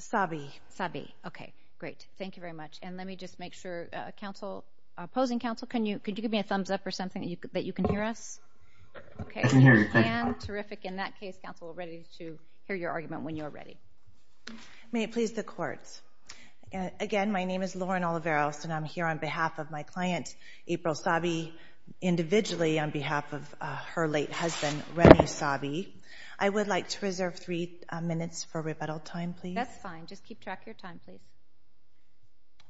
Sabbe. Sabbe. Okay. Great. Thank you very much. And let me just make sure, uh, Council, uh, opposing Council, can you, could you give me a thumbs up or something that you, that you can hear us? Okay. I can hear you. And terrific. In that case, Council, we're ready to hear your argument when you're ready. May it please the courts. Again, my name is Lauren Oliveros, and I'm here on behalf of my client, April Sabbe, individually on behalf of, uh, her late husband, Rene Sabbe. I would like to reserve three minutes for rebuttal time, please. That's fine. Just keep track of your time, please.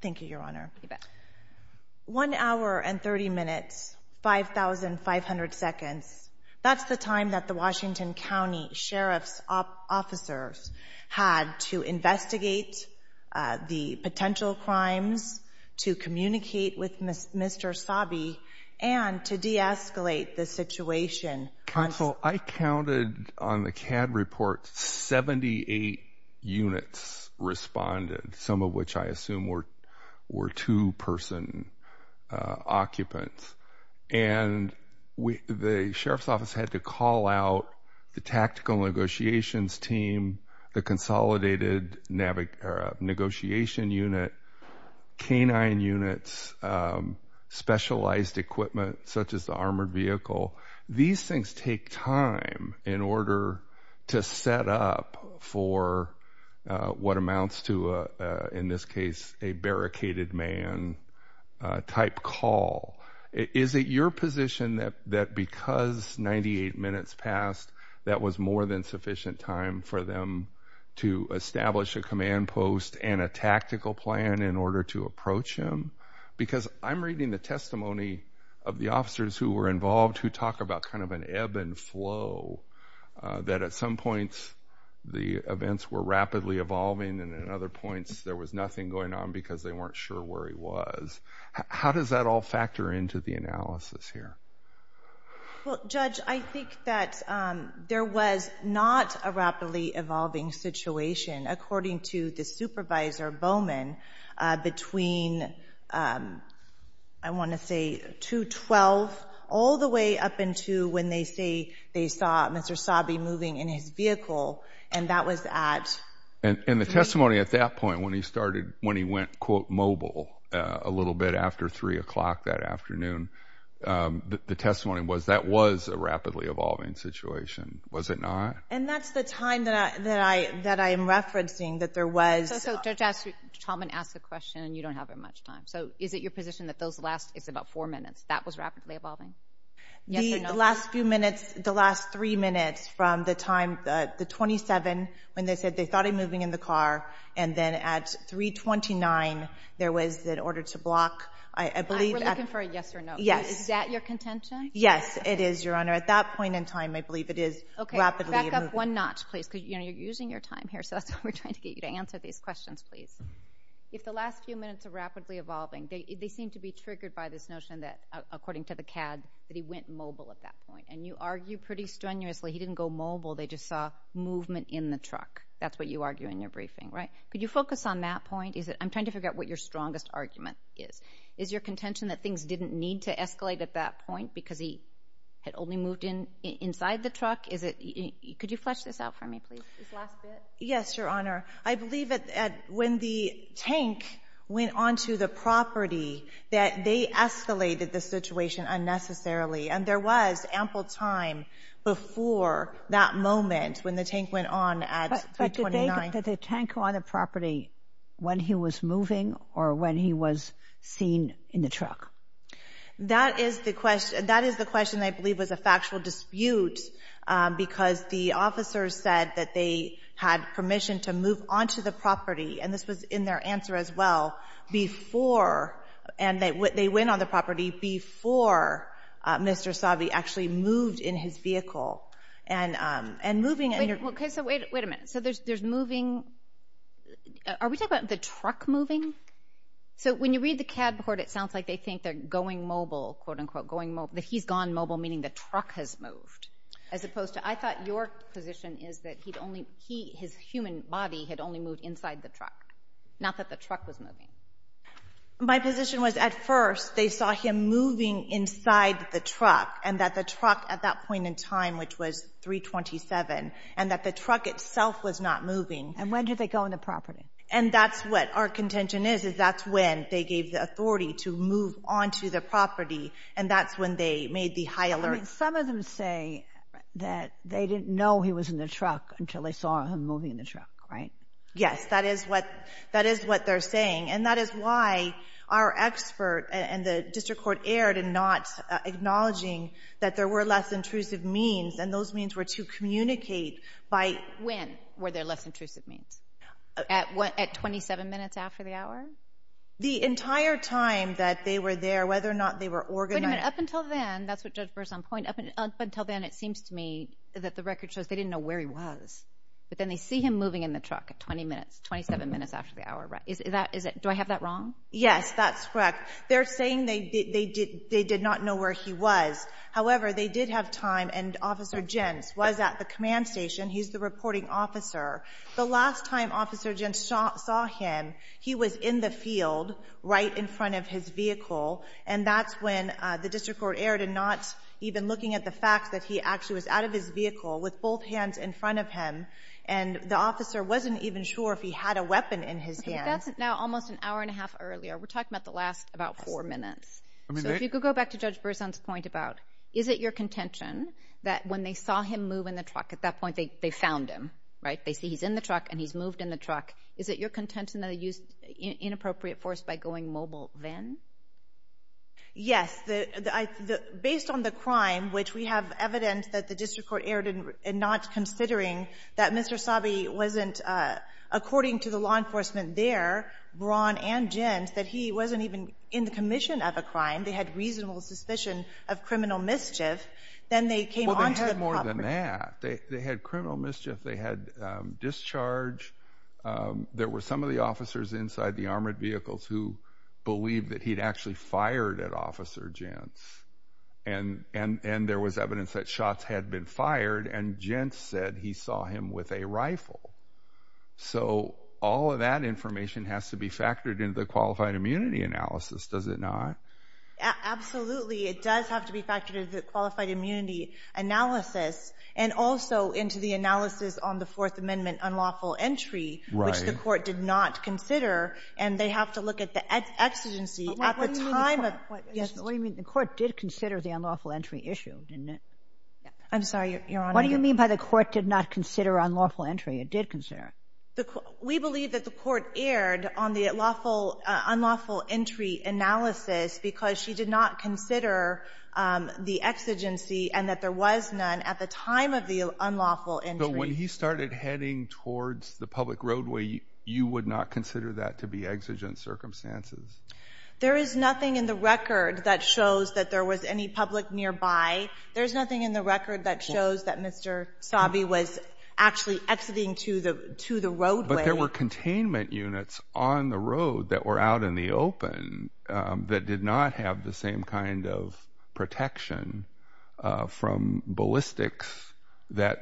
Thank you, Your Honor. One hour and 30 minutes, 5,500 seconds. That's the time that the Washington County Sheriff's officers had to investigate the potential crimes, to counsel. I counted on the CAD report. 78 units responded, some of which I assume were, were two person occupants. And we, the sheriff's office had to call out the tactical negotiations team, the consolidated navigation unit, canine units, um, specialized equipment such as the armored vehicle. These things take time in order to set up for what amounts to, in this case, a barricaded man type call. Is it your position that, that because 98 minutes passed, that was more than sufficient time for them to establish a command post and a tactical plan in order to approach him? Because I'm reading the talk about kind of an ebb and flow, that at some points, the events were rapidly evolving, and at other points, there was nothing going on because they weren't sure where he was. How does that all factor into the analysis here? Well, Judge, I think that there was not a rapidly evolving situation, according to the supervisor Bowman, between, I want to say, 2-12, all the way up into when they say they saw Mr. Sabe moving in his vehicle, and that was at... And, and the testimony at that point, when he started, when he went, quote, mobile a little bit after 3 o'clock that afternoon, the testimony was that was a rapidly evolving situation, was it not? And that's the time that I, that I, that I am referencing, that there was... So, so, Judge, Chalman asked a question, and you don't have very much time. So, is it your position that those last, it's about four minutes, that was rapidly evolving? The last few minutes, the last three minutes from the time, the 27, when they said they thought he moving in the car, and then at 329, there was that order to block, I believe... We're looking for a yes or no. Yes. Is that your contention? Yes, it is, Your Honor. At that point in time, I believe it is rapidly... Okay, back up one notch, please, because, you know, you're using your time here, so we're trying to get you to answer these questions, please. If the last few minutes are rapidly evolving, they seem to be triggered by this notion that, according to the CAD, that he went mobile at that point, and you argue pretty strenuously he didn't go mobile, they just saw movement in the truck. That's what you argue in your briefing, right? Could you focus on that point? Is it... I'm trying to figure out what your strongest argument is. Is your contention that things didn't need to escalate at that point because he had only moved in inside the truck? Is it... Could you flesh this out for me, please? Yes, Your Honor. I believe that when the tank went onto the property, that they escalated the situation unnecessarily, and there was ample time before that moment when the tank went on at 329. But did the tank go on the property when he was moving or when he was seen in the truck? That is the question. That is the question I believe was a dispute, because the officers said that they had permission to move onto the property, and this was in their answer as well, before, and they went on the property before Mr. Sabi actually moved in his vehicle, and moving... Okay, so wait a minute. So there's moving... Are we talking about the truck moving? So when you read the CAD report, it sounds like they think they're going mobile, quote-unquote, going mobile, that he's gone mobile, meaning the truck has moved, as opposed to... I thought your position is that he'd only... He, his human body, had only moved inside the truck, not that the truck was moving. My position was, at first, they saw him moving inside the truck, and that the truck, at that point in time, which was 327, and that the truck itself was not moving. And when did they go on the property? And that's what our contention is, is that's when they gave the authority to move onto the property, and that's when they made the high alert. I mean, some of them say that they didn't know he was in the truck until they saw him moving in the truck, right? Yes, that is what, that is what they're saying, and that is why our expert and the district court erred in not acknowledging that there were less intrusive means, and those means were to communicate by... When were there less intrusive means? At what, at 27 minutes after the hour? The entire time that they were there, whether or not they were organized... Wait a minute, up until then, that's what Judge Burr's on point, up until then, it seems to me that the record shows they didn't know where he was, but then they see him moving in the truck at 20 minutes, 27 minutes after the hour, right? Is that, is it, do I have that wrong? Yes, that's correct. They're saying they did, they did, they did not know where he was. However, they did have time, and Officer Jentz was at the command station. He's the reporting officer. The last time Officer Jentz saw him, he was in the front of his vehicle, and that's when the district court erred in not even looking at the fact that he actually was out of his vehicle with both hands in front of him, and the officer wasn't even sure if he had a weapon in his hand. That's now almost an hour and a half earlier. We're talking about the last about four minutes. So if you could go back to Judge Burr's point about, is it your contention that when they saw him move in the truck, at that point they found him, right? They see he's in the truck, and he's moved in the truck. Is it your contention that he used inappropriate force by going mobile then? Yes. Based on the crime, which we have evidence that the district court erred in not considering that Mr. Sabe wasn't, according to the law enforcement there, Braun and Jentz, that he wasn't even in the commission of a crime. They had reasonable suspicion of criminal mischief. Then they came on to the property. Well, they had more than that. They had criminal mischief. They had discharge. There were some of the officers inside the armored vehicles who believed that he'd actually fired at Officer Jentz, and there was evidence that shots had been fired, and Jentz said he saw him with a rifle. So all of that information has to be factored into the qualified immunity analysis, does it not? Absolutely. It does have to be factored into the qualified immunity analysis, and also into the analysis on the Fourth Amendment unlawful entry, which the court did not consider, and they have to look at the exigency at the time of the issue. What do you mean the court did consider the unlawful entry issue, didn't it? I'm sorry, Your Honor. What do you mean by the court did not consider unlawful entry? It did consider it. We believe that the court erred on the unlawful entry analysis because she did not consider the exigency and that there was none at the time of the unlawful entry So when he started heading towards the public roadway, you would not consider that to be exigent circumstances? There is nothing in the record that shows that there was any public nearby. There's nothing in the record that shows that Mr. Sabi was actually exiting to the to the roadway. But there were containment units on the road that were out in the open that did not have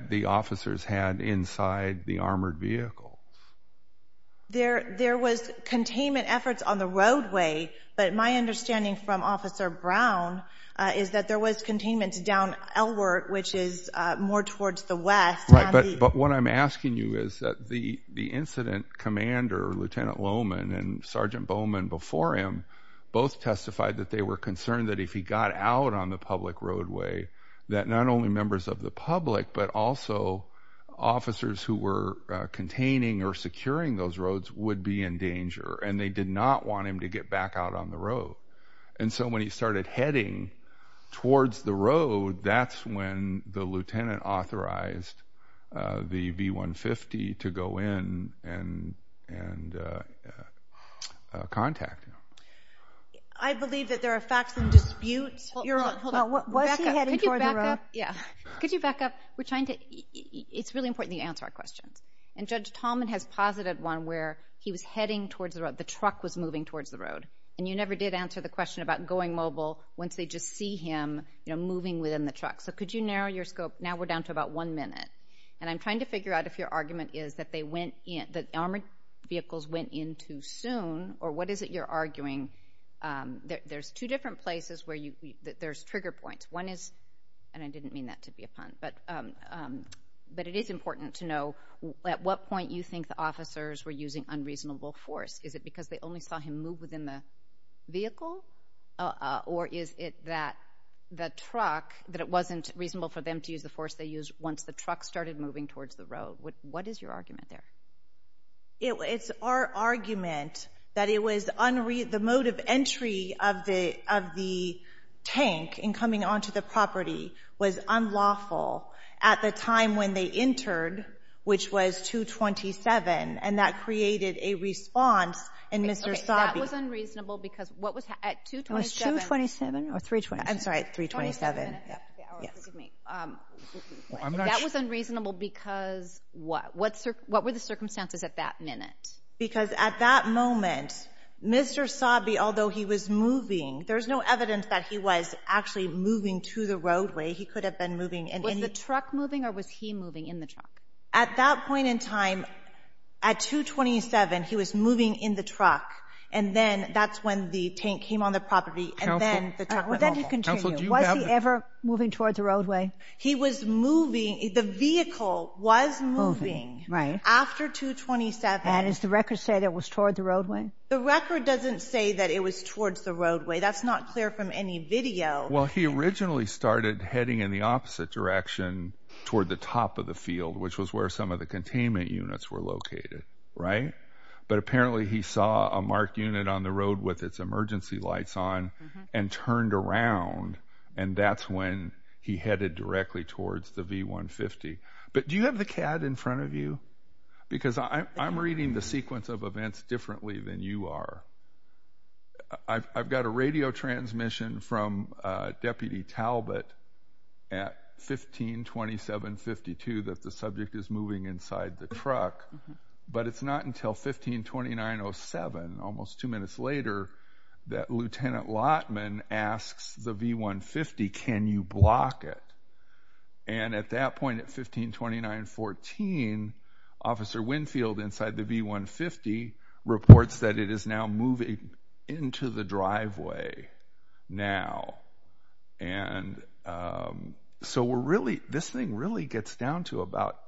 the officers had inside the armored vehicles. There was containment efforts on the roadway, but my understanding from Officer Brown is that there was containment down Elworth, which is more towards the west. But what I'm asking you is that the incident commander, Lieutenant Lohmann, and Sergeant Bowman before him both testified that they were concerned that if he got out on the public roadway that not only members of the public, but also officers who were containing or securing those roads would be in danger and they did not want him to get back out on the road. And so when he started heading towards the road, that's when the lieutenant authorized the V-150 to go in and contact him. I believe that there are facts and disputes. Hold on, hold on. Was he heading towards the road? Yeah. Could you back up? We're trying to, it's really important you answer our questions. And Judge Tallman has posited one where he was heading towards the road, the truck was moving towards the road. And you never did answer the question about going mobile once they just see him, you know, moving within the truck. So could you narrow your scope? Now we're down to about one minute. And I'm trying to figure out if your argument is that they went in, that armored vehicles went in too soon, or what is it you're arguing? There's two different places where you, there's trigger points. One is, and I didn't mean that to be a pun, but it is important to know at what point you think the officers were using unreasonable force. Is it because they only saw him move within the vehicle or is it that the truck, that it wasn't reasonable for them to use the force they used once the truck started moving towards the road? What is your argument there? It's our argument that it was, the mode of entry of the tank in coming onto the property was unlawful at the time when they entered, which was 2-27, and that created a response in Mr. Sabi. Okay, that was unreasonable because what was, at 2-27... It was 2-27 or 3-27? I'm sorry, 3-27. That was unreasonable because what? What were the circumstances at that minute? Because at that moment, Mr. Sabi, although he was moving, there's no evidence that he was actually moving to the roadway. He could have been moving... Was the truck moving or was he moving in the truck? At that point in time, at 2-27, he was moving in the truck and then that's when the tank came on the property and then the truck went over. But then to continue, was he ever moving towards the roadway? He was moving, the vehicle was moving after 2-27. And does the record say that it was towards the roadway? The record doesn't say that it was towards the roadway. That's not clear from any video. Well, he originally started heading in the opposite direction toward the top of the field, which was where some of the containment units were located, right? But apparently he saw a marked unit on the road with its emergency lights on and turned around and that's when he headed directly towards the V-150. But do you have the CAD in front of you? Because I'm reading the sequence of events differently than you are. I've got a radio transmission from Deputy Talbot at 15-27-52 that the subject is moving inside the truck. But it's not until 15-29-07, almost two minutes later, that Lieutenant Lottman asks the V-150, can you block it? And at that point at 15-29-14, Officer Winfield inside the V-150 reports that it is now moving into the driveway now. And so this thing really gets down to about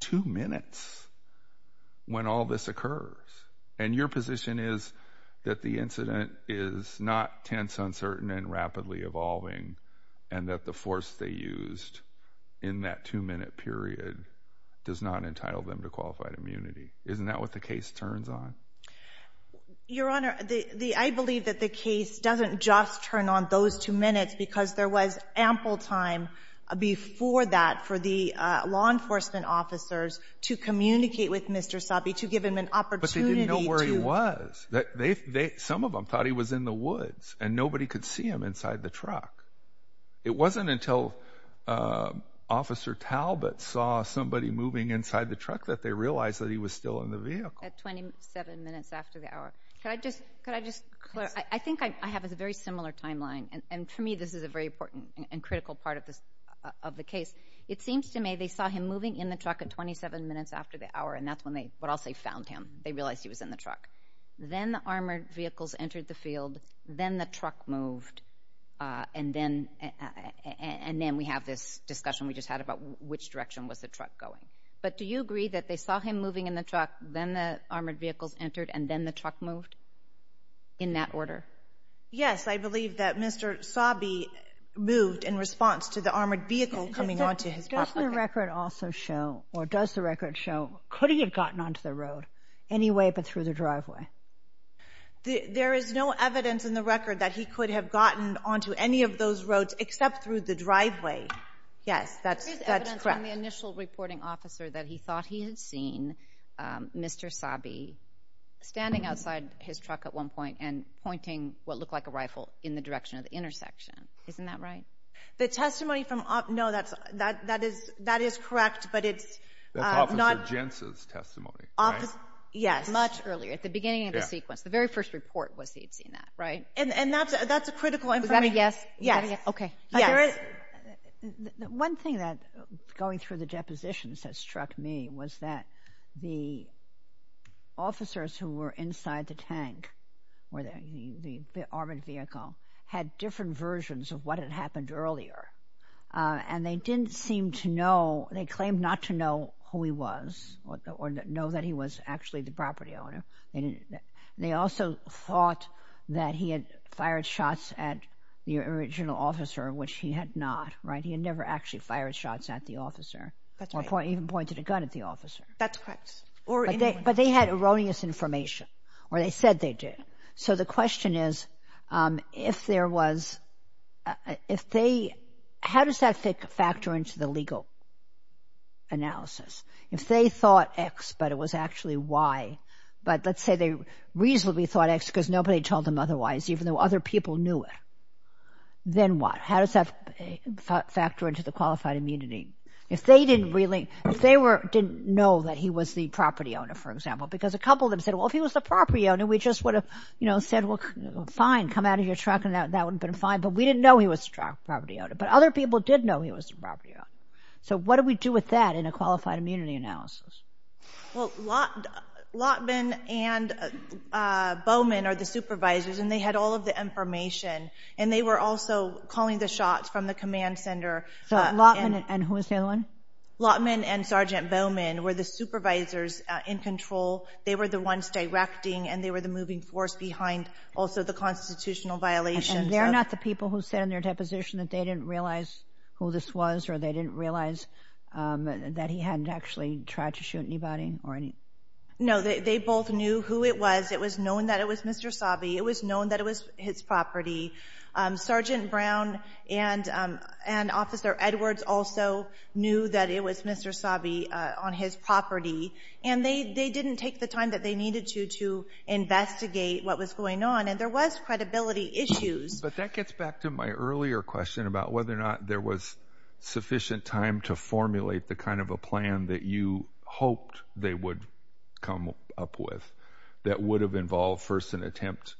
two minutes when all this occurs. And your position is that the incident is not tense, uncertain, and rapidly evolving, and that the force they used in that two minute period does not entitle them to qualified immunity. Isn't that what the case turns on? Your Honor, I believe that the case doesn't just turn on those two minutes because there was ample time before that for the law enforcement officers to communicate with Mr. Sabi to give him an opportunity to... But they didn't know where he was. Some of them thought he was in the woods and nobody could see him inside the truck. It wasn't until Officer Talbot saw somebody moving inside the truck that they realized that he was still in the vehicle. At 27 minutes after the hour. Could I just... I think I have a very similar timeline, and for me this is a very important and critical part of the case. It seems to me they saw him moving in the truck at 27 minutes after the hour, and that's when they, what I'll say, found him. They realized he was in the truck. Then the armored vehicles entered the field, then the truck moved, and then we have this discussion we just had about which direction was the truck going. But do you agree that they saw him moving in the truck, then the armored vehicles entered, and then the truck moved in that order? Yes, I believe that Mr. Sabi moved in response to the armored vehicle coming onto his property. Doesn't the record also show, or does the record show, could he have gotten onto the road anyway but through the driveway? There is no evidence in the record that he could have gotten onto any of those roads except through the driveway. Yes, that's correct. And the initial reporting officer that he thought he had seen, Mr. Sabi, standing outside his truck at one point and pointing what looked like a rifle in the direction of the intersection. Isn't that right? The testimony from—no, that is correct, but it's not— That's Officer Jentz's testimony, right? Yes, much earlier, at the beginning of the sequence. The very first report was he had seen that, right? And that's a critical information— Is that a yes? Yes. One thing that, going through the depositions, that struck me was that the officers who were inside the tank, or the armored vehicle, had different versions of what had happened earlier, and they didn't seem to know—they claimed not to know who he was or know that he was actually the property owner. They also thought that he had fired shots at the original officer, which he had not, right? He had never actually fired shots at the officer. That's right. Or even pointed a gun at the officer. That's correct. But they had erroneous information, or they said they did. So the question is, if there was—if they— how does that factor into the legal analysis? If they thought X, but it was actually Y, but let's say they reasonably thought X because nobody told them otherwise, even though other people knew it, then what? How does that factor into the qualified immunity? If they didn't really—if they didn't know that he was the property owner, for example, because a couple of them said, well, if he was the property owner, we just would have said, well, fine, come out of your truck, and that would have been fine, but we didn't know he was the property owner. But other people did know he was the property owner. So what do we do with that in a qualified immunity analysis? Well, Lottman and Bowman are the supervisors, and they had all of the information, and they were also calling the shots from the command center. So Lottman and who was the other one? Lottman and Sergeant Bowman were the supervisors in control. They were the ones directing, and they were the moving force behind also the constitutional violations. And they're not the people who said in their deposition that they didn't realize who this was or they didn't realize that he hadn't actually tried to shoot anybody or any— No, they both knew who it was. It was known that it was Mr. Sabe. It was known that it was his property. Sergeant Brown and Officer Edwards also knew that it was Mr. Sabe on his property, and they didn't take the time that they needed to to investigate what was going on, and there was credibility issues. But that gets back to my earlier question about whether or not there was sufficient time to formulate the kind of a plan that you hoped they would come up with that would have involved first an attempt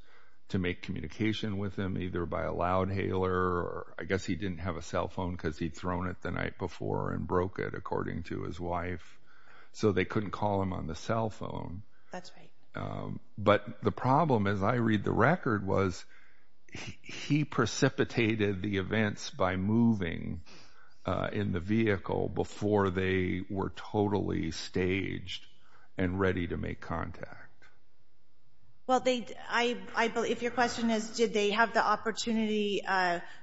to make communication with him either by a loud hailer, or I guess he didn't have a cell phone because he'd thrown it the night before and broke it, according to his wife, so they couldn't call him on the cell phone. That's right. But the problem, as I read the record, was he precipitated the events by moving in the vehicle before they were totally staged and ready to make contact. Well, if your question is did they have the opportunity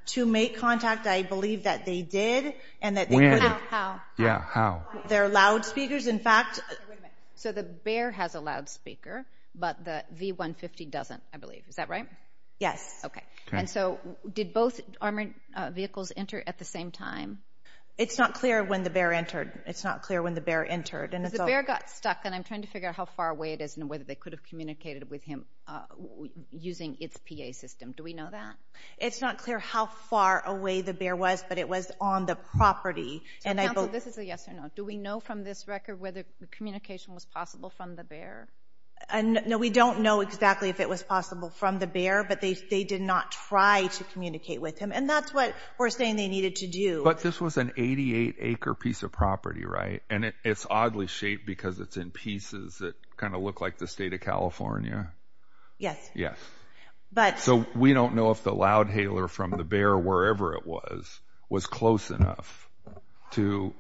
to make contact, I believe that they did. When? How? Yeah, how? They're loudspeakers. So the B.E.A.R. has a loudspeaker, but the V-150 doesn't, I believe. Is that right? Yes. Okay. And so did both armored vehicles enter at the same time? It's not clear when the B.E.A.R. entered. It's not clear when the B.E.A.R. entered. Because the B.E.A.R. got stuck, and I'm trying to figure out how far away it is and whether they could have communicated with him using its P.A. system. Do we know that? It's not clear how far away the B.E.A.R. was, but it was on the property. Counsel, this is a yes or no. Do we know from this record whether communication was possible from the B.E.A.R.? No, we don't know exactly if it was possible from the B.E.A.R., but they did not try to communicate with him, and that's what we're saying they needed to do. But this was an 88-acre piece of property, right? And it's oddly shaped because it's in pieces that kind of look like the state of California. Yes. Yes. So we don't know if the loudhaler from the B.E.A.R., wherever it was, was close enough to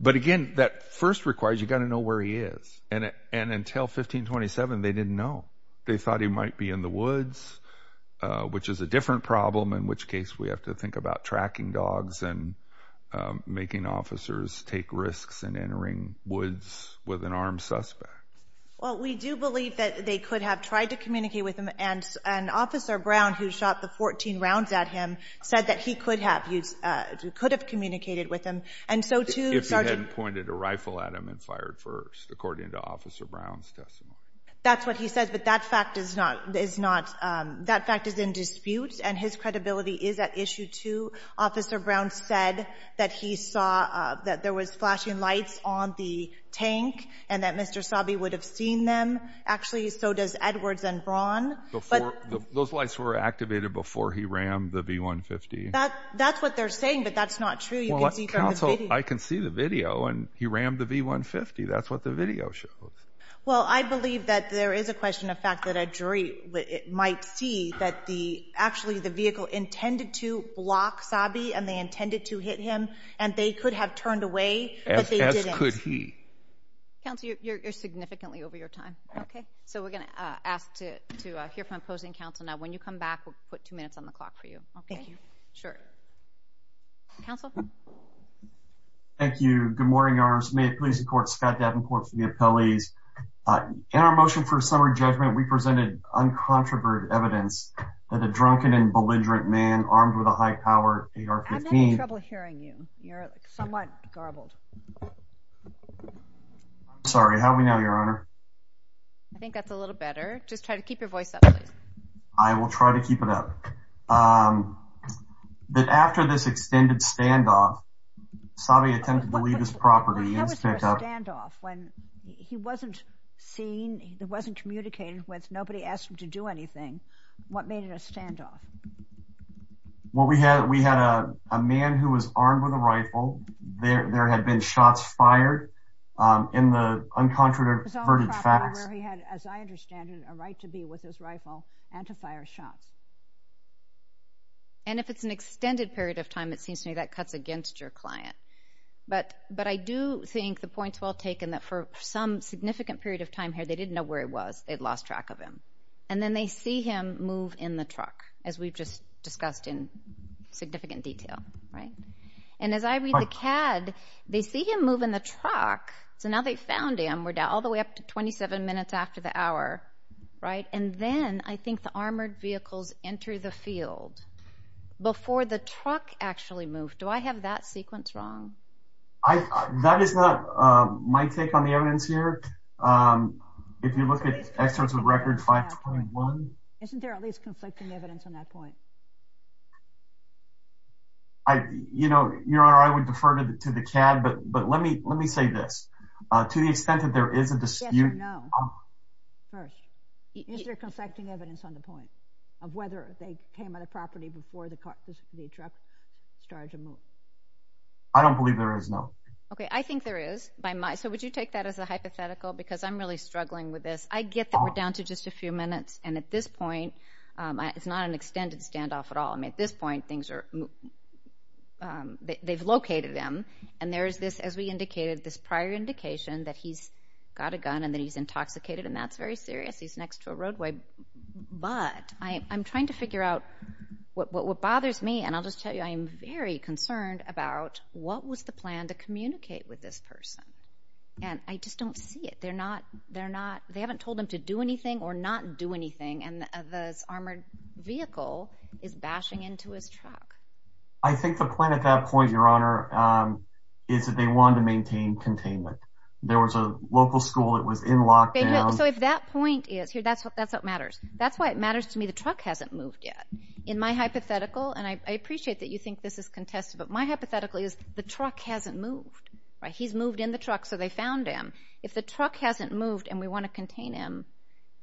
But again, that first requires you've got to know where he is, and until 1527 they didn't know. They thought he might be in the woods, which is a different problem, in which case we have to think about tracking dogs and making officers take risks in entering woods with an armed suspect. Well, we do believe that they could have tried to communicate with him, and Officer Brown, who shot the 14 rounds at him, said that he could have communicated with him. If he hadn't pointed a rifle at him and fired first, according to Officer Brown's testimony. That's what he says, but that fact is in dispute, and his credibility is at issue too. Officer Brown said that he saw that there was flashing lights on the tank and that Mr. Sabi would have seen them. Actually, so does Edwards and Braun. Those lights were activated before he rammed the V-150. That's what they're saying, but that's not true. Counsel, I can see the video, and he rammed the V-150. That's what the video shows. Well, I believe that there is a question of fact that a jury might see that actually the vehicle intended to block Sabi, and they intended to hit him, and they could have turned away, but they didn't. As could he. Counsel, you're significantly over your time. Okay. So we're going to ask to hear from opposing counsel. Now, when you come back, we'll put two minutes on the clock for you. Thank you. Sure. Counsel? Thank you. Good morning, Your Honors. May it please the Court, Scott Davenport for the appellees. In our motion for summary judgment, we presented uncontroverted evidence that a drunken and belligerent man armed with a high-powered AR-15. I'm having trouble hearing you. You're somewhat garbled. Sorry. How are we now, Your Honor? I think that's a little better. Just try to keep your voice up, please. I will try to keep it up. After this extended standoff, Sabi attempted to leave his property. Why was there a standoff when he wasn't seen, he wasn't communicated with, nobody asked him to do anything? What made it a standoff? Well, we had a man who was armed with a rifle. There had been shots fired in the uncontroverted facts. It was on the property where he had, as I understand it, a right to be with his rifle and to fire shots. And if it's an extended period of time, it seems to me that cuts against your client. But I do think the point's well taken, that for some significant period of time here, they didn't know where he was, they'd lost track of him. And then they see him move in the truck, as we've just discussed in significant detail, right? And as I read the CAD, they see him move in the truck, so now they've found him. We're all the way up to 27 minutes after the hour, right? And then I think the armored vehicles enter the field before the truck actually moved. Do I have that sequence wrong? That is not my take on the evidence here. If you look at excerpts of Record 521... Isn't there at least conflicting evidence on that point? You know, Your Honor, I would defer to the CAD, but let me say this. To the extent that there is a dispute... Yes or no, first. Is there conflicting evidence on the point of whether they came on the property before the truck started to move? I don't believe there is, no. Okay, I think there is. So would you take that as a hypothetical? Because I'm really struggling with this. I get that we're down to just a few minutes, and at this point, it's not an extended standoff at all. I mean, at this point, they've located him, and there is this, as we indicated, this prior indication that he's got a gun and that he's intoxicated, and that's very serious. He's next to a roadway. But I'm trying to figure out what bothers me, and I'll just tell you I am very concerned about what was the plan to communicate with this person. And I just don't see it. They haven't told him to do anything or not do anything, and this armored vehicle is bashing into his truck. I think the point at that point, Your Honor, is that they wanted to maintain containment. There was a local school that was in lockdown. So if that point is here, that's what matters. That's why it matters to me the truck hasn't moved yet. In my hypothetical, and I appreciate that you think this is contested, but my hypothetical is the truck hasn't moved. He's moved in the truck, so they found him. If the truck hasn't moved and we want to contain him,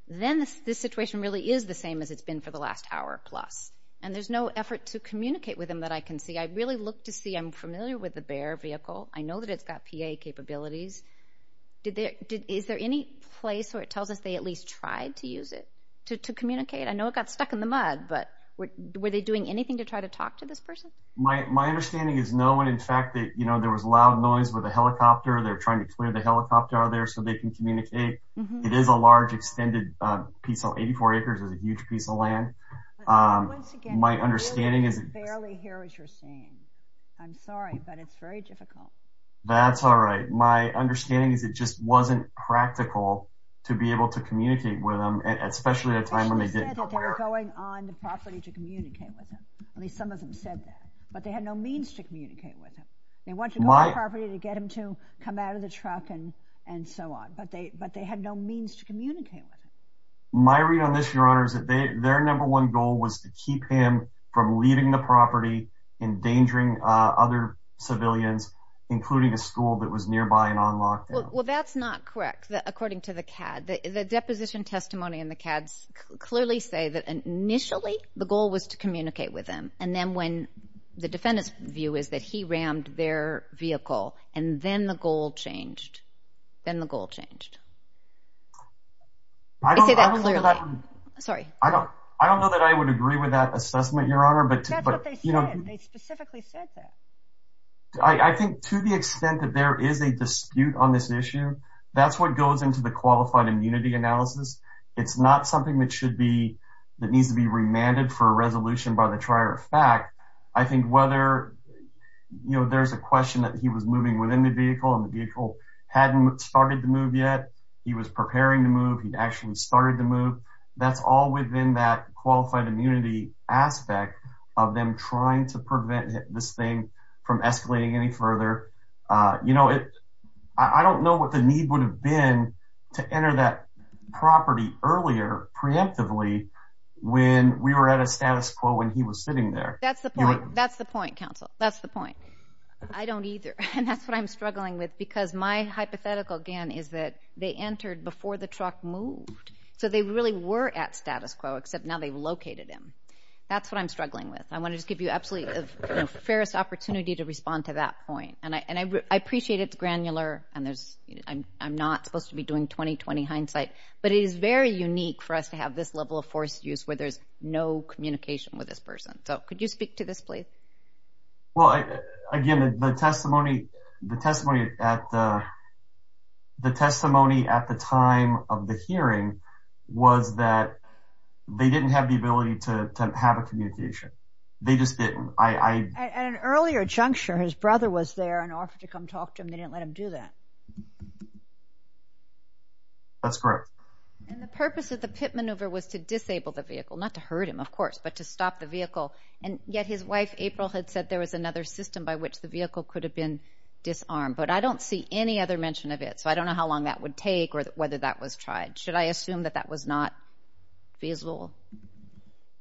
then this situation really is the same as it's been for the last hour-plus. And there's no effort to communicate with him that I can see. I really look to see. I'm familiar with the B.E.A.R. vehicle. I know that it's got P.A. capabilities. Is there any place where it tells us they at least tried to use it to communicate? I know it got stuck in the mud, but were they doing anything to try to talk to this person? My understanding is no, and in fact, there was loud noise with a helicopter. They're trying to clear the helicopter out of there so they can communicate. It is a large extended piece of 84 acres. It's a huge piece of land. My understanding is... I can barely hear what you're saying. I'm sorry, but it's very difficult. That's all right. My understanding is it just wasn't practical to be able to communicate with them, especially at a time when they didn't care. They said that they were going on the property to communicate with him. At least some of them said that, but they had no means to communicate with him. They went to the property to get him to come out of the truck and so on, but they had no means to communicate with him. My read on this, Your Honor, is that their number one goal was to keep him from leaving the property, endangering other civilians, including a school that was nearby and on lockdown. Well, that's not correct, according to the CAD. The deposition testimony in the CADs clearly say that initially, the goal was to communicate with them, and then when the defendant's view is that he rammed their vehicle, and then the goal changed. They say that clearly. I don't know that I would agree with that assessment, Your Honor, but... That's what they said. They specifically said that. I think to the extent that there is a dispute on this issue, that's what goes into the qualified immunity analysis. It's not something that should be, that needs to be remanded for a resolution by the trier of fact. I think whether, you know, there's a question that he was moving within the vehicle and the vehicle hadn't started to move yet. He was preparing to move. He'd actually started to move. That's all within that qualified immunity aspect of them trying to prevent this thing from escalating any further. You know, I don't know what the need would have been to enter that property earlier, preemptively, when we were at a status quo and he was sitting there. That's the point. That's the point, counsel. That's the point. I don't either, and that's what I'm struggling with because my hypothetical, again, is that they entered before the truck moved. So they really were at status quo, except now they've located him. That's what I'm struggling with. I want to just give you absolutely, you know, the fairest opportunity to respond to that point. And I appreciate it's granular and I'm not supposed to be doing 20-20 hindsight, but it is very unique for us to have this level of forced use where there's no communication with this person. So could you speak to this, please? Well, again, the testimony, the testimony at the time of the hearing was that they didn't have the ability to have a communication. They just didn't. At an earlier juncture, his brother was there and offered to come talk to him. They didn't let him do that. That's correct. And the purpose of the pit maneuver was to disable the vehicle, not to hurt him, of course, but to stop the vehicle. And yet his wife, April, had said there was another system by which the vehicle could have been disarmed. But I don't see any other mention of it, so I don't know how long that would take or whether that was tried. Should I assume that that was not feasible?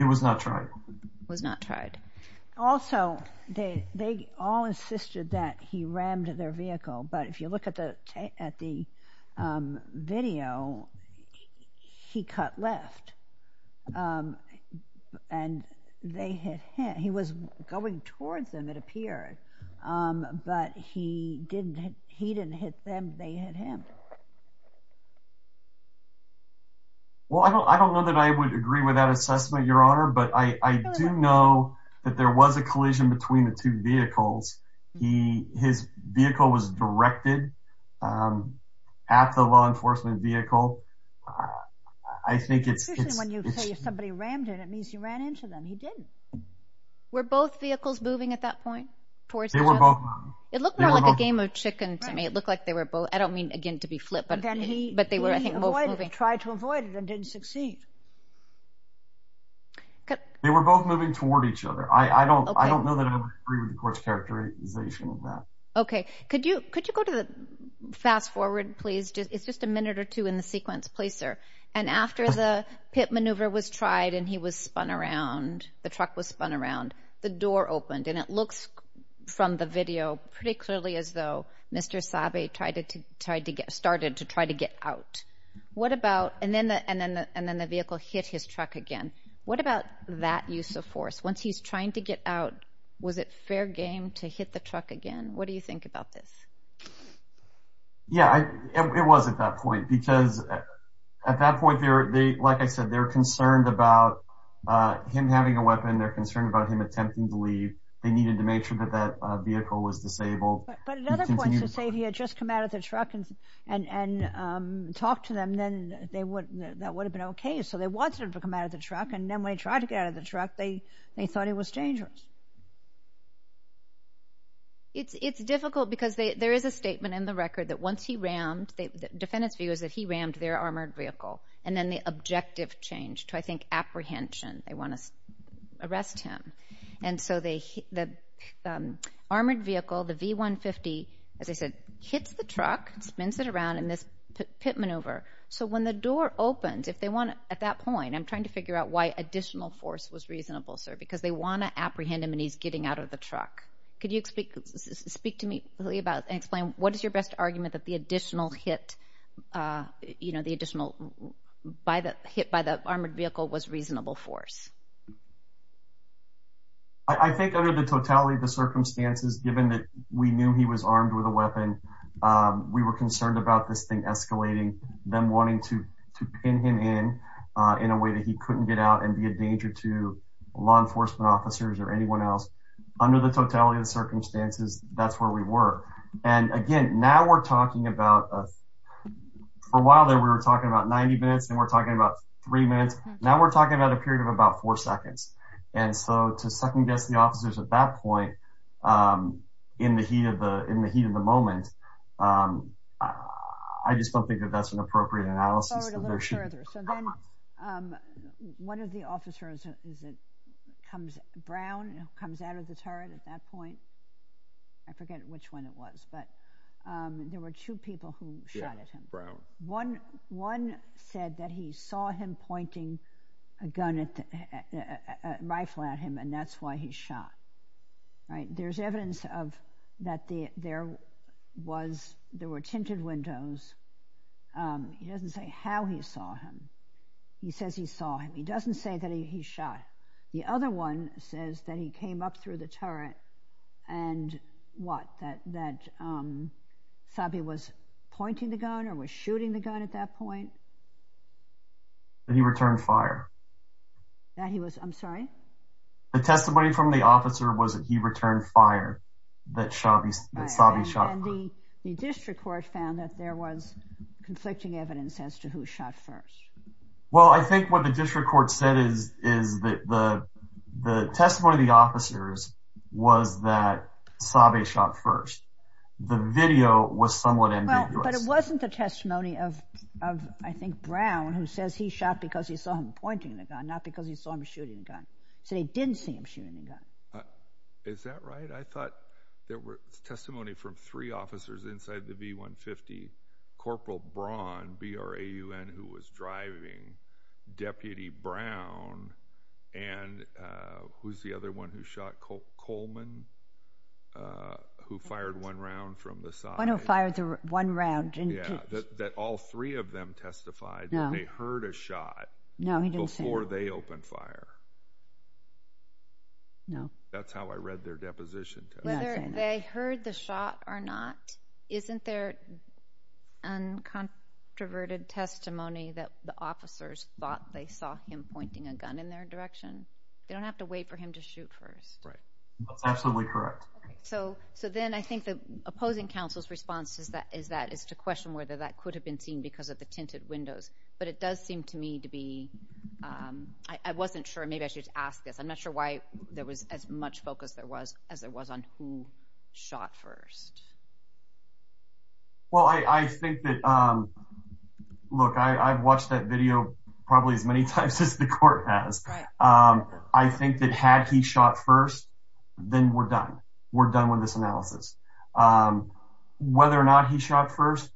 It was not tried. It was not tried. Also, they all insisted that he rammed their vehicle, but if you look at the video, he cut left. And they had hit. He was going towards them, it appears, but he didn't hit them. They hit him. Well, I don't know that I would agree with that assessment, Your Honor, but I do know that there was a collision between the two vehicles. His vehicle was directed at the law enforcement vehicle. I think it's... Usually when you say somebody rammed it, that means he ran into them. He didn't. Were both vehicles moving at that point? They were both moving. It looked more like a game of chicken to me. It looked like they were both... I don't mean, again, to be flip, but they were, I think, both moving. He tried to avoid it and didn't succeed. They were both moving toward each other. I don't know that I would agree with the court's characterization of that. Okay. Could you go to the... Fast forward, please. It's just a minute or two in the sequence. Please, sir. And after the pit maneuver was tried and he was spun around, the truck was spun around, the door opened. And it looks from the video pretty clearly as though Mr. Sabe tried to get started to try to get out. What about... And then the vehicle hit his truck again. What about that use of force? Once he's trying to get out, was it fair game to hit the truck again? What do you think about this? Yeah, it was at that point because at that point, like I said, they're concerned about him having a weapon. They're concerned about him attempting to leave. They needed to make sure that that vehicle was disabled. But at other points, if Sabe had just come out of the truck and talked to them, then that would have been okay. So they wanted him to come out of the truck, and then when he tried to get out of the truck, they thought he was dangerous. It's difficult because there is a statement in the record that once he rammed, the defendant's view is that he rammed their armored vehicle, and then the objective changed to, I think, apprehension. They want to arrest him. And so the armored vehicle, the V-150, as I said, hits the truck, spins it around in this pit maneuver. So when the door opens, if they want to... At that point, I'm trying to figure out why additional force was reasonable, sir, because they want to apprehend him and he's getting out of the truck. Could you speak to me and explain what is your best argument that the additional hit, you know, the additional hit by the armored vehicle was reasonable force? I think under the totality of the circumstances, given that we knew he was armed with a weapon, we were concerned about this thing escalating, them wanting to pin him in, in a way that he couldn't get out and be a danger to law enforcement officers or anyone else. Under the totality of the circumstances, that's where we were. And again, now we're talking about... For a while there, we were talking about 90 minutes, then we're talking about three minutes. Now we're talking about a period of about four seconds. And so to second-guess the officers at that point, in the heat of the moment, I just don't think that that's an appropriate analysis. Go a little further. So then one of the officers comes brown, comes out of the turret at that point. I forget which one it was, but there were two people who shot at him. One said that he saw him pointing a rifle at him, and that's why he shot. There's evidence that there were tinted windows. He doesn't say how he saw him. He says he saw him. He doesn't say that he shot. The other one says that he came up through the turret and what? That Sabi was pointing the gun or was shooting the gun at that point? That he returned fire. That he was... I'm sorry? The testimony from the officer was that he returned fire, that Sabi shot first. And the district court found that there was conflicting evidence as to who shot first. Well, I think what the district court said is that the testimony of the officers was that Sabi shot first. The video was somewhat ambiguous. But it wasn't the testimony of, I think, Brown, who says he shot because he saw him pointing the gun, not because he saw him shooting the gun. He said he didn't see him shooting the gun. Is that right? I thought there was testimony from three officers inside the B-150, Corporal Braun, B-R-A-U-N, who was driving Deputy Brown. And who's the other one who shot? Coleman, who fired one round from the side. One who fired one round. Yeah, that all three of them testified that they heard a shot before they opened fire. No. That's how I read their deposition. Whether they heard the shot or not, isn't there uncontroverted testimony that the officers thought they saw him pointing a gun in their direction? They don't have to wait for him to shoot first. That's absolutely correct. So then I think the opposing counsel's response is to question whether that could have been seen because of the tinted windows. But it does seem to me to be – I wasn't sure. Maybe I should ask this. I'm not sure why there was as much focus there was as there was on who shot first. Well, I think that – look, I've watched that video probably as many times as the court has. I think that had he shot first, then we're done. We're done with this analysis. Whether or not he shot first,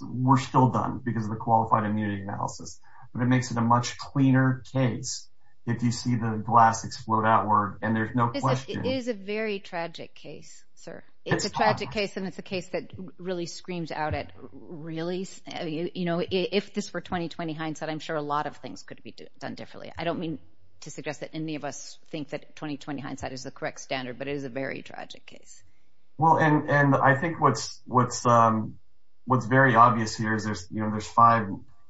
we're still done because of the qualified immunity analysis. But it makes it a much cleaner case if you see the glass explode outward and there's no question. It is a very tragic case, sir. It's a tragic case, and it's a case that really screams out at, really, if this were 20-20 hindsight, I'm sure a lot of things could be done differently. I don't mean to suggest that any of us think that 20-20 hindsight is the correct standard, but it is a very tragic case. Well, and I think what's very obvious here is there's five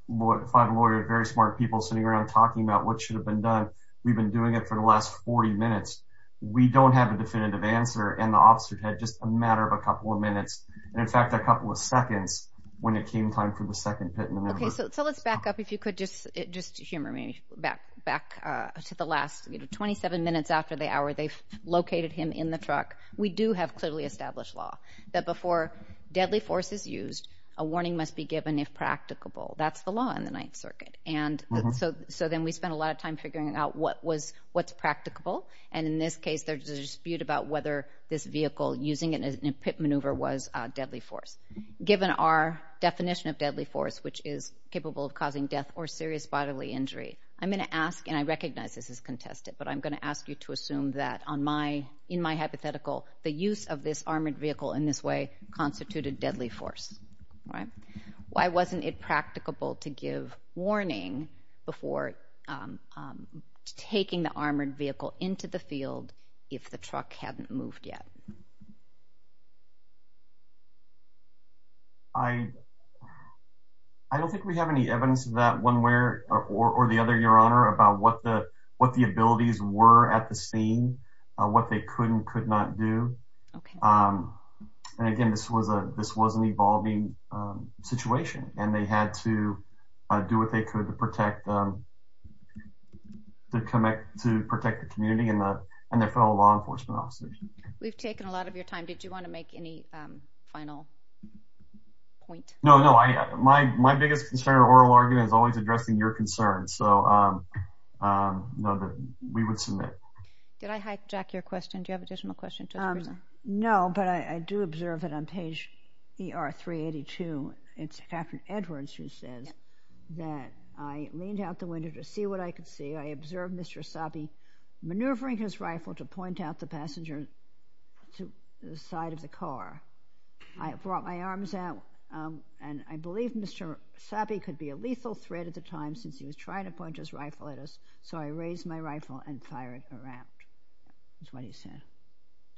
lawyers, very smart people sitting around talking about what should have been done. We've been doing it for the last 40 minutes. We don't have a definitive answer, and the officer had just a matter of a couple of minutes, and in fact a couple of seconds, when it came time for the second hit in the middle. Okay, so let's back up, if you could, just humor me. Back to the last 27 minutes after the hour they located him in the truck. We do have clearly established law that before deadly force is used, a warning must be given if practicable. That's the law in the Ninth Circuit. So then we spent a lot of time figuring out what's practicable, and in this case there's a dispute about whether this vehicle, using it in a pit maneuver, was deadly force. Given our definition of deadly force, which is capable of causing death or serious bodily injury, I'm going to ask, and I recognize this is contested, but I'm going to ask you to assume that in my hypothetical, the use of this armored vehicle in this way constituted deadly force. Why wasn't it practicable to give warning before taking the armored vehicle into the field if the truck hadn't moved yet? I don't think we have any evidence of that one way or the other, Your Honor, about what the abilities were at the scene, what they could and could not do. And again, this was an evolving situation, and they had to do what they could to protect the community and their fellow law enforcement officers. We've taken a lot of your time. Did you want to make any final point? No, no. My biggest concern or oral argument is always addressing your concerns, so no, we would submit. Did I hijack your question? Do you have an additional question? No, but I do observe that on page ER382, it's Captain Edwards who says that I leaned out the window to see what I could see. I observed Mr. Sabi maneuvering his rifle to point out the passenger to the side of the car. I brought my arms out, and I believed Mr. Sabi could be a lethal threat at the time since he was trying to point his rifle at us, so I raised my rifle and fired a rap. That's what he said.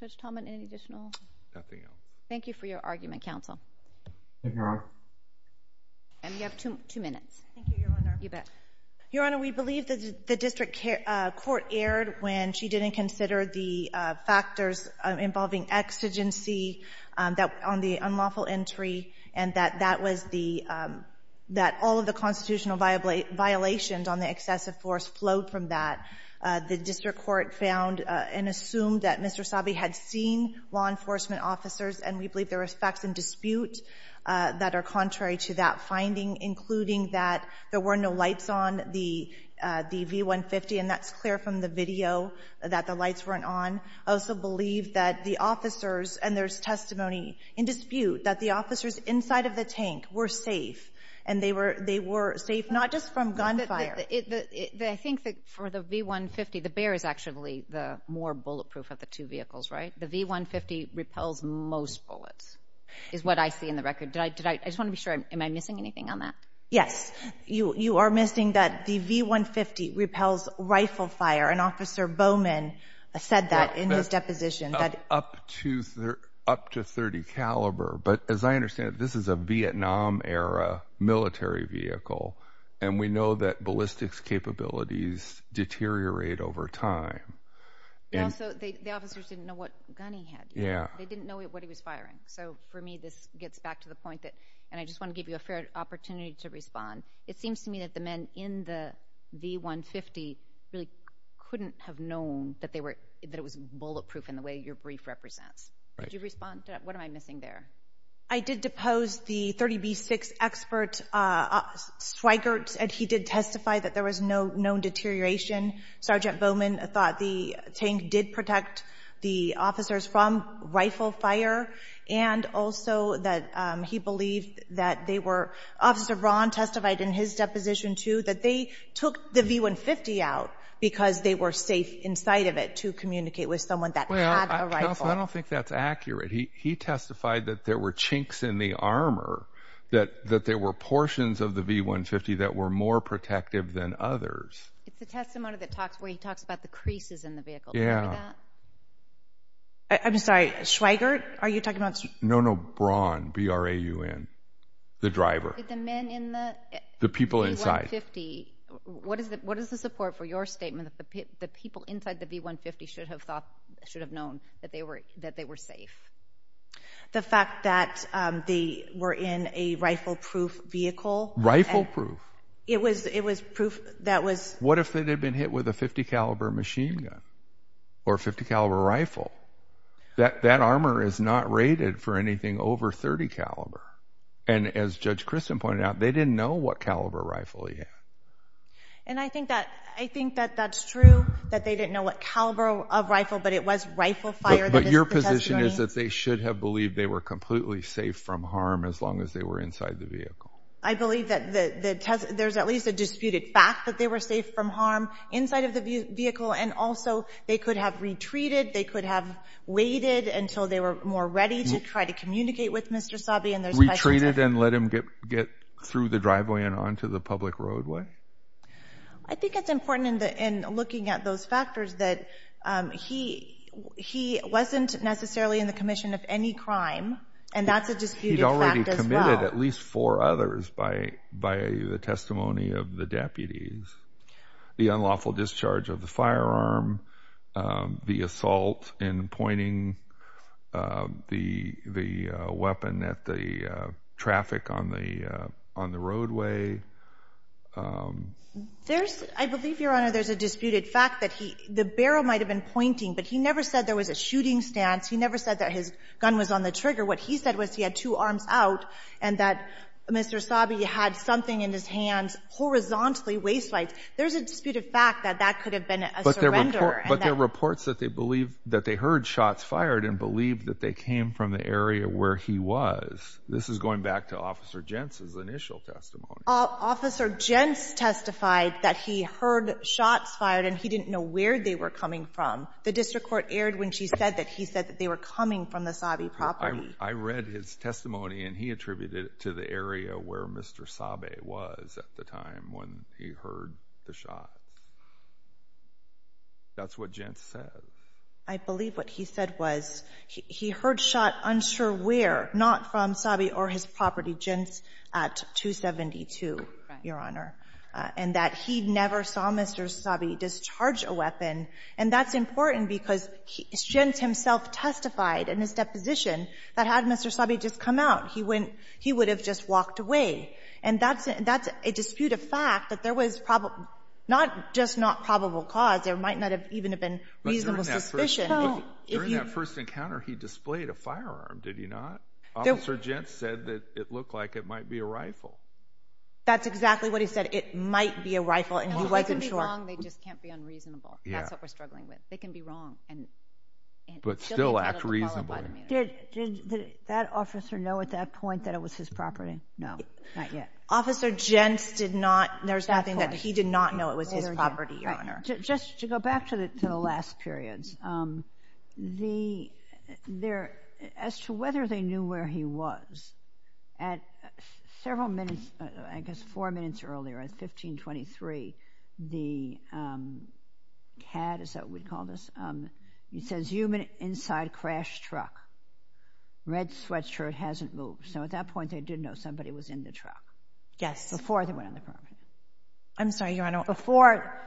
Judge Talmadge, any additional? Nothing else. Thank you for your argument, counsel. Thank you, Your Honor. And you have two minutes. Thank you, Your Honor. You bet. Your Honor, we believe the district court erred when she didn't consider the factors involving exigency on the unlawful entry and that all of the constitutional violations on the excessive force flowed from that. The district court found and assumed that Mr. Sabi had seen law enforcement officers, and we believe there were facts in dispute that are contrary to that finding, including that there were no lights on the V-150, and that's clear from the video that the lights weren't on. I also believe that the officers, and there's testimony in dispute, that the officers inside of the tank were safe, and they were safe not just from gunfire. I think that for the V-150, the bear is actually the more bulletproof of the two vehicles, right? The V-150 repels most bullets is what I see in the record. I just want to be sure, am I missing anything on that? Yes, you are missing that the V-150 repels rifle fire, and Officer Bowman said that in his deposition. Up to .30 caliber, but as I understand it, this is a Vietnam-era military vehicle, and we know that ballistics capabilities deteriorate over time. Also, the officers didn't know what gun he had. They didn't know what he was firing, so for me this gets back to the point that, and I just want to give you a fair opportunity to respond, it seems to me that the men in the V-150 really couldn't have known that it was bulletproof in the way your brief represents. Could you respond to that? What am I missing there? I did depose the .30B6 expert Schweigert, and he did testify that there was no known deterioration. Sergeant Bowman thought the tank did protect the officers from rifle fire, and also that he believed that they were, Officer Braun testified in his deposition, too, that they took the V-150 out because they were safe inside of it to communicate with someone that had a rifle. Well, Counsel, I don't think that's accurate. He testified that there were chinks in the armor, that there were portions of the V-150 that were more protective than others. It's the testimony where he talks about the creases in the vehicle. Yeah. I'm sorry, Schweigert, are you talking about? No, no, Braun, B-R-A-U-N, the driver. The men in the V-150. The people inside. What is the support for your statement that the people inside the V-150 should have known that they were safe? The fact that they were in a rifle-proof vehicle. Rifle-proof. It was proof that was... What if they had been hit with a .50 caliber machine gun or .50 caliber rifle? That armor is not rated for anything over .30 caliber, and as Judge Christen pointed out, they didn't know what caliber rifle he had. And I think that's true, that they didn't know what caliber of rifle, but it was rifle fire that is the testimony. But your position is that they should have believed they were completely safe from harm as long as they were inside the vehicle. I believe that there's at least a disputed fact that they were safe from harm inside of the vehicle, and also they could have retreated, they could have waited until they were more ready to try to communicate with Mr. Sabe, retreated and let him get through the driveway and onto the public roadway. I think it's important in looking at those factors that he wasn't necessarily in the commission of any crime, and that's a disputed fact as well. He'd already committed at least four others by the testimony of the deputies. The unlawful discharge of the firearm, the assault in pointing the weapon at the traffic on the roadway. I believe, Your Honor, there's a disputed fact that the barrel might have been pointing, but he never said there was a shooting stance. He never said that his gun was on the trigger. What he said was he had two arms out and that Mr. Sabe had something in his hands horizontally waist-width. There's a disputed fact that that could have been a surrender. But there are reports that they heard shots fired and believed that they came from the area where he was. This is going back to Officer Jentz's initial testimony. Officer Jentz testified that he heard shots fired, and he didn't know where they were coming from. The district court erred when she said that he said that they were coming from the Sabe property. I read his testimony, and he attributed it to the area where Mr. Sabe was at the time when he heard the shot. That's what Jentz said. I believe what he said was he heard shot unsure where, not from Sabe or his property, Jentz at 272, Your Honor, and that he never saw Mr. Sabe discharge a weapon. And that's important because Jentz himself testified in his deposition that had Mr. Sabe just come out, he would have just walked away. And that's a disputed fact that there was not just not probable cause, there might not have even been reasonable suspicion. During that first encounter, he displayed a firearm, did he not? Officer Jentz said that it looked like it might be a rifle. That's exactly what he said, it might be a rifle, and he wasn't sure. They can be wrong, they just can't be unreasonable. That's what we're struggling with. They can be wrong. But still act reasonably. Did that officer know at that point that it was his property? No, not yet. Officer Jentz did not. There's nothing that he did not know it was his property, Your Honor. Just to go back to the last periods, as to whether they knew where he was, at several minutes, I guess four minutes earlier, at 1523, the cad, is that what we'd call this? It says, human inside crash truck. Red sweatshirt, hasn't moved. So at that point, they did know somebody was in the truck. Yes. Before they went on the property. I'm sorry, Your Honor. Before,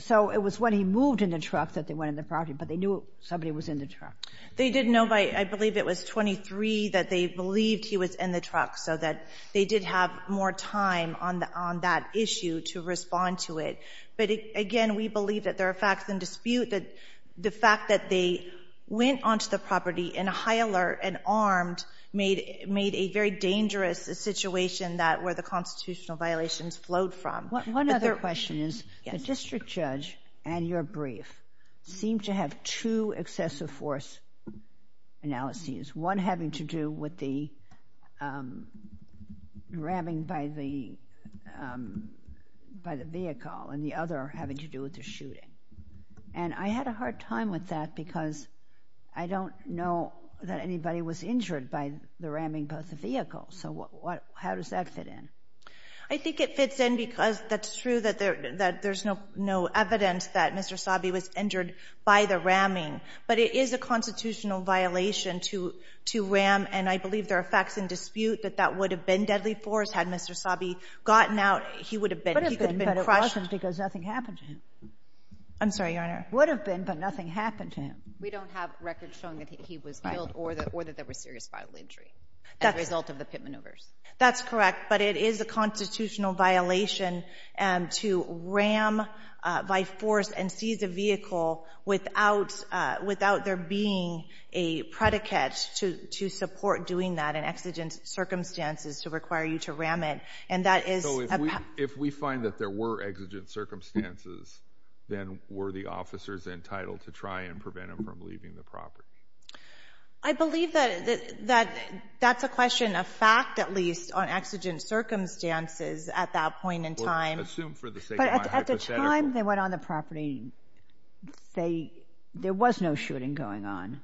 so it was when he moved in the truck that they went on the property, but they knew somebody was in the truck. They did know by, I believe it was 23, that they believed he was in the truck, so that they did have more time on that issue to respond to it. But again, we believe that there are facts in dispute. The fact that they went onto the property in a high alert and armed made a very dangerous situation where the constitutional violations flowed from. One other question is, the district judge and your brief seemed to have two excessive force analyses, one having to do with the grabbing by the vehicle and the other having to do with the shooting. And I had a hard time with that because I don't know that anybody was injured by the ramming by the vehicle. So how does that fit in? I think it fits in because that's true that there's no evidence that Mr. Sabhi was injured by the ramming, but it is a constitutional violation to ram, and I believe there are facts in dispute that that would have been deadly force had Mr. Sabhi gotten out. He would have been crushed. He would have been crushed because nothing happened to him. I'm sorry, Your Honor. Would have been, but nothing happened to him. We don't have records showing that he was killed or that there was serious vital injury as a result of the pit maneuvers. That's correct, but it is a constitutional violation to ram by force and seize a vehicle without there being a predicate to support doing that in exigent circumstances to require you to ram it. So if we find that there were exigent circumstances, then were the officers entitled to try and prevent him from leaving the property? I believe that that's a question of fact, at least, on exigent circumstances at that point in time. Assume for the sake of my hypothetical. But at the time they went on the property, there was no shooting going on.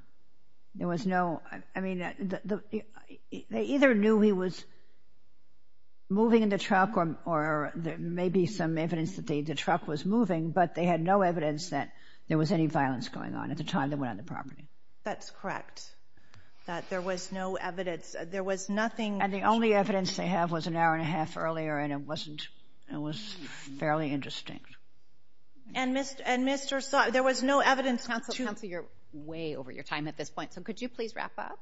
There was no—I mean, they either knew he was moving in the truck or there may be some evidence that the truck was moving, but they had no evidence that there was any violence going on at the time they went on the property. That's correct, that there was no evidence. There was nothing— And the only evidence they have was an hour and a half earlier, and it wasn't—it was fairly indistinct. And Mr. Sabhi—there was no evidence to— Counsel, you're way over your time at this point. So could you please wrap up?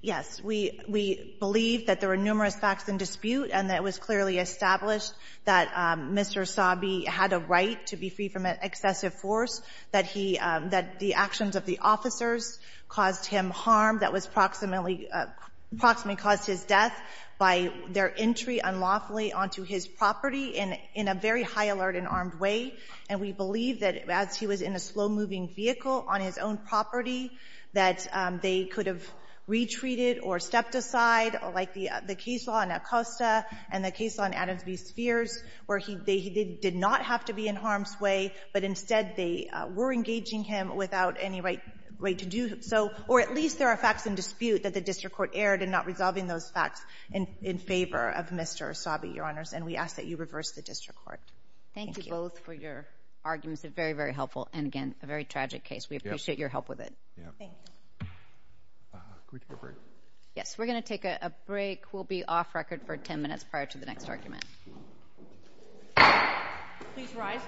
Yes. We believe that there were numerous facts in dispute and that it was clearly established that Mr. Sabhi had a right to be free from excessive force, that the actions of the officers caused him harm that was approximately caused his death by their entry unlawfully onto his property in a very high alert and armed way. And we believe that as he was in a slow-moving vehicle on his own property that they could have retreated or stepped aside, like the case law in Acosta and the case law in Adams v. Spears, where they did not have to be in harm's way, but instead they were engaging him without any right to do so. Or at least there are facts in dispute that the district court erred in not resolving those facts in favor of Mr. Sabhi, Your Honors. And we ask that you reverse the district court. Thank you. Thank you both for your arguments. They're very, very helpful. And, again, a very tragic case. We appreciate your help with it. Thank you. Could we take a break? Yes. We're going to take a break. We'll be off record for 10 minutes prior to the next argument. Please rise.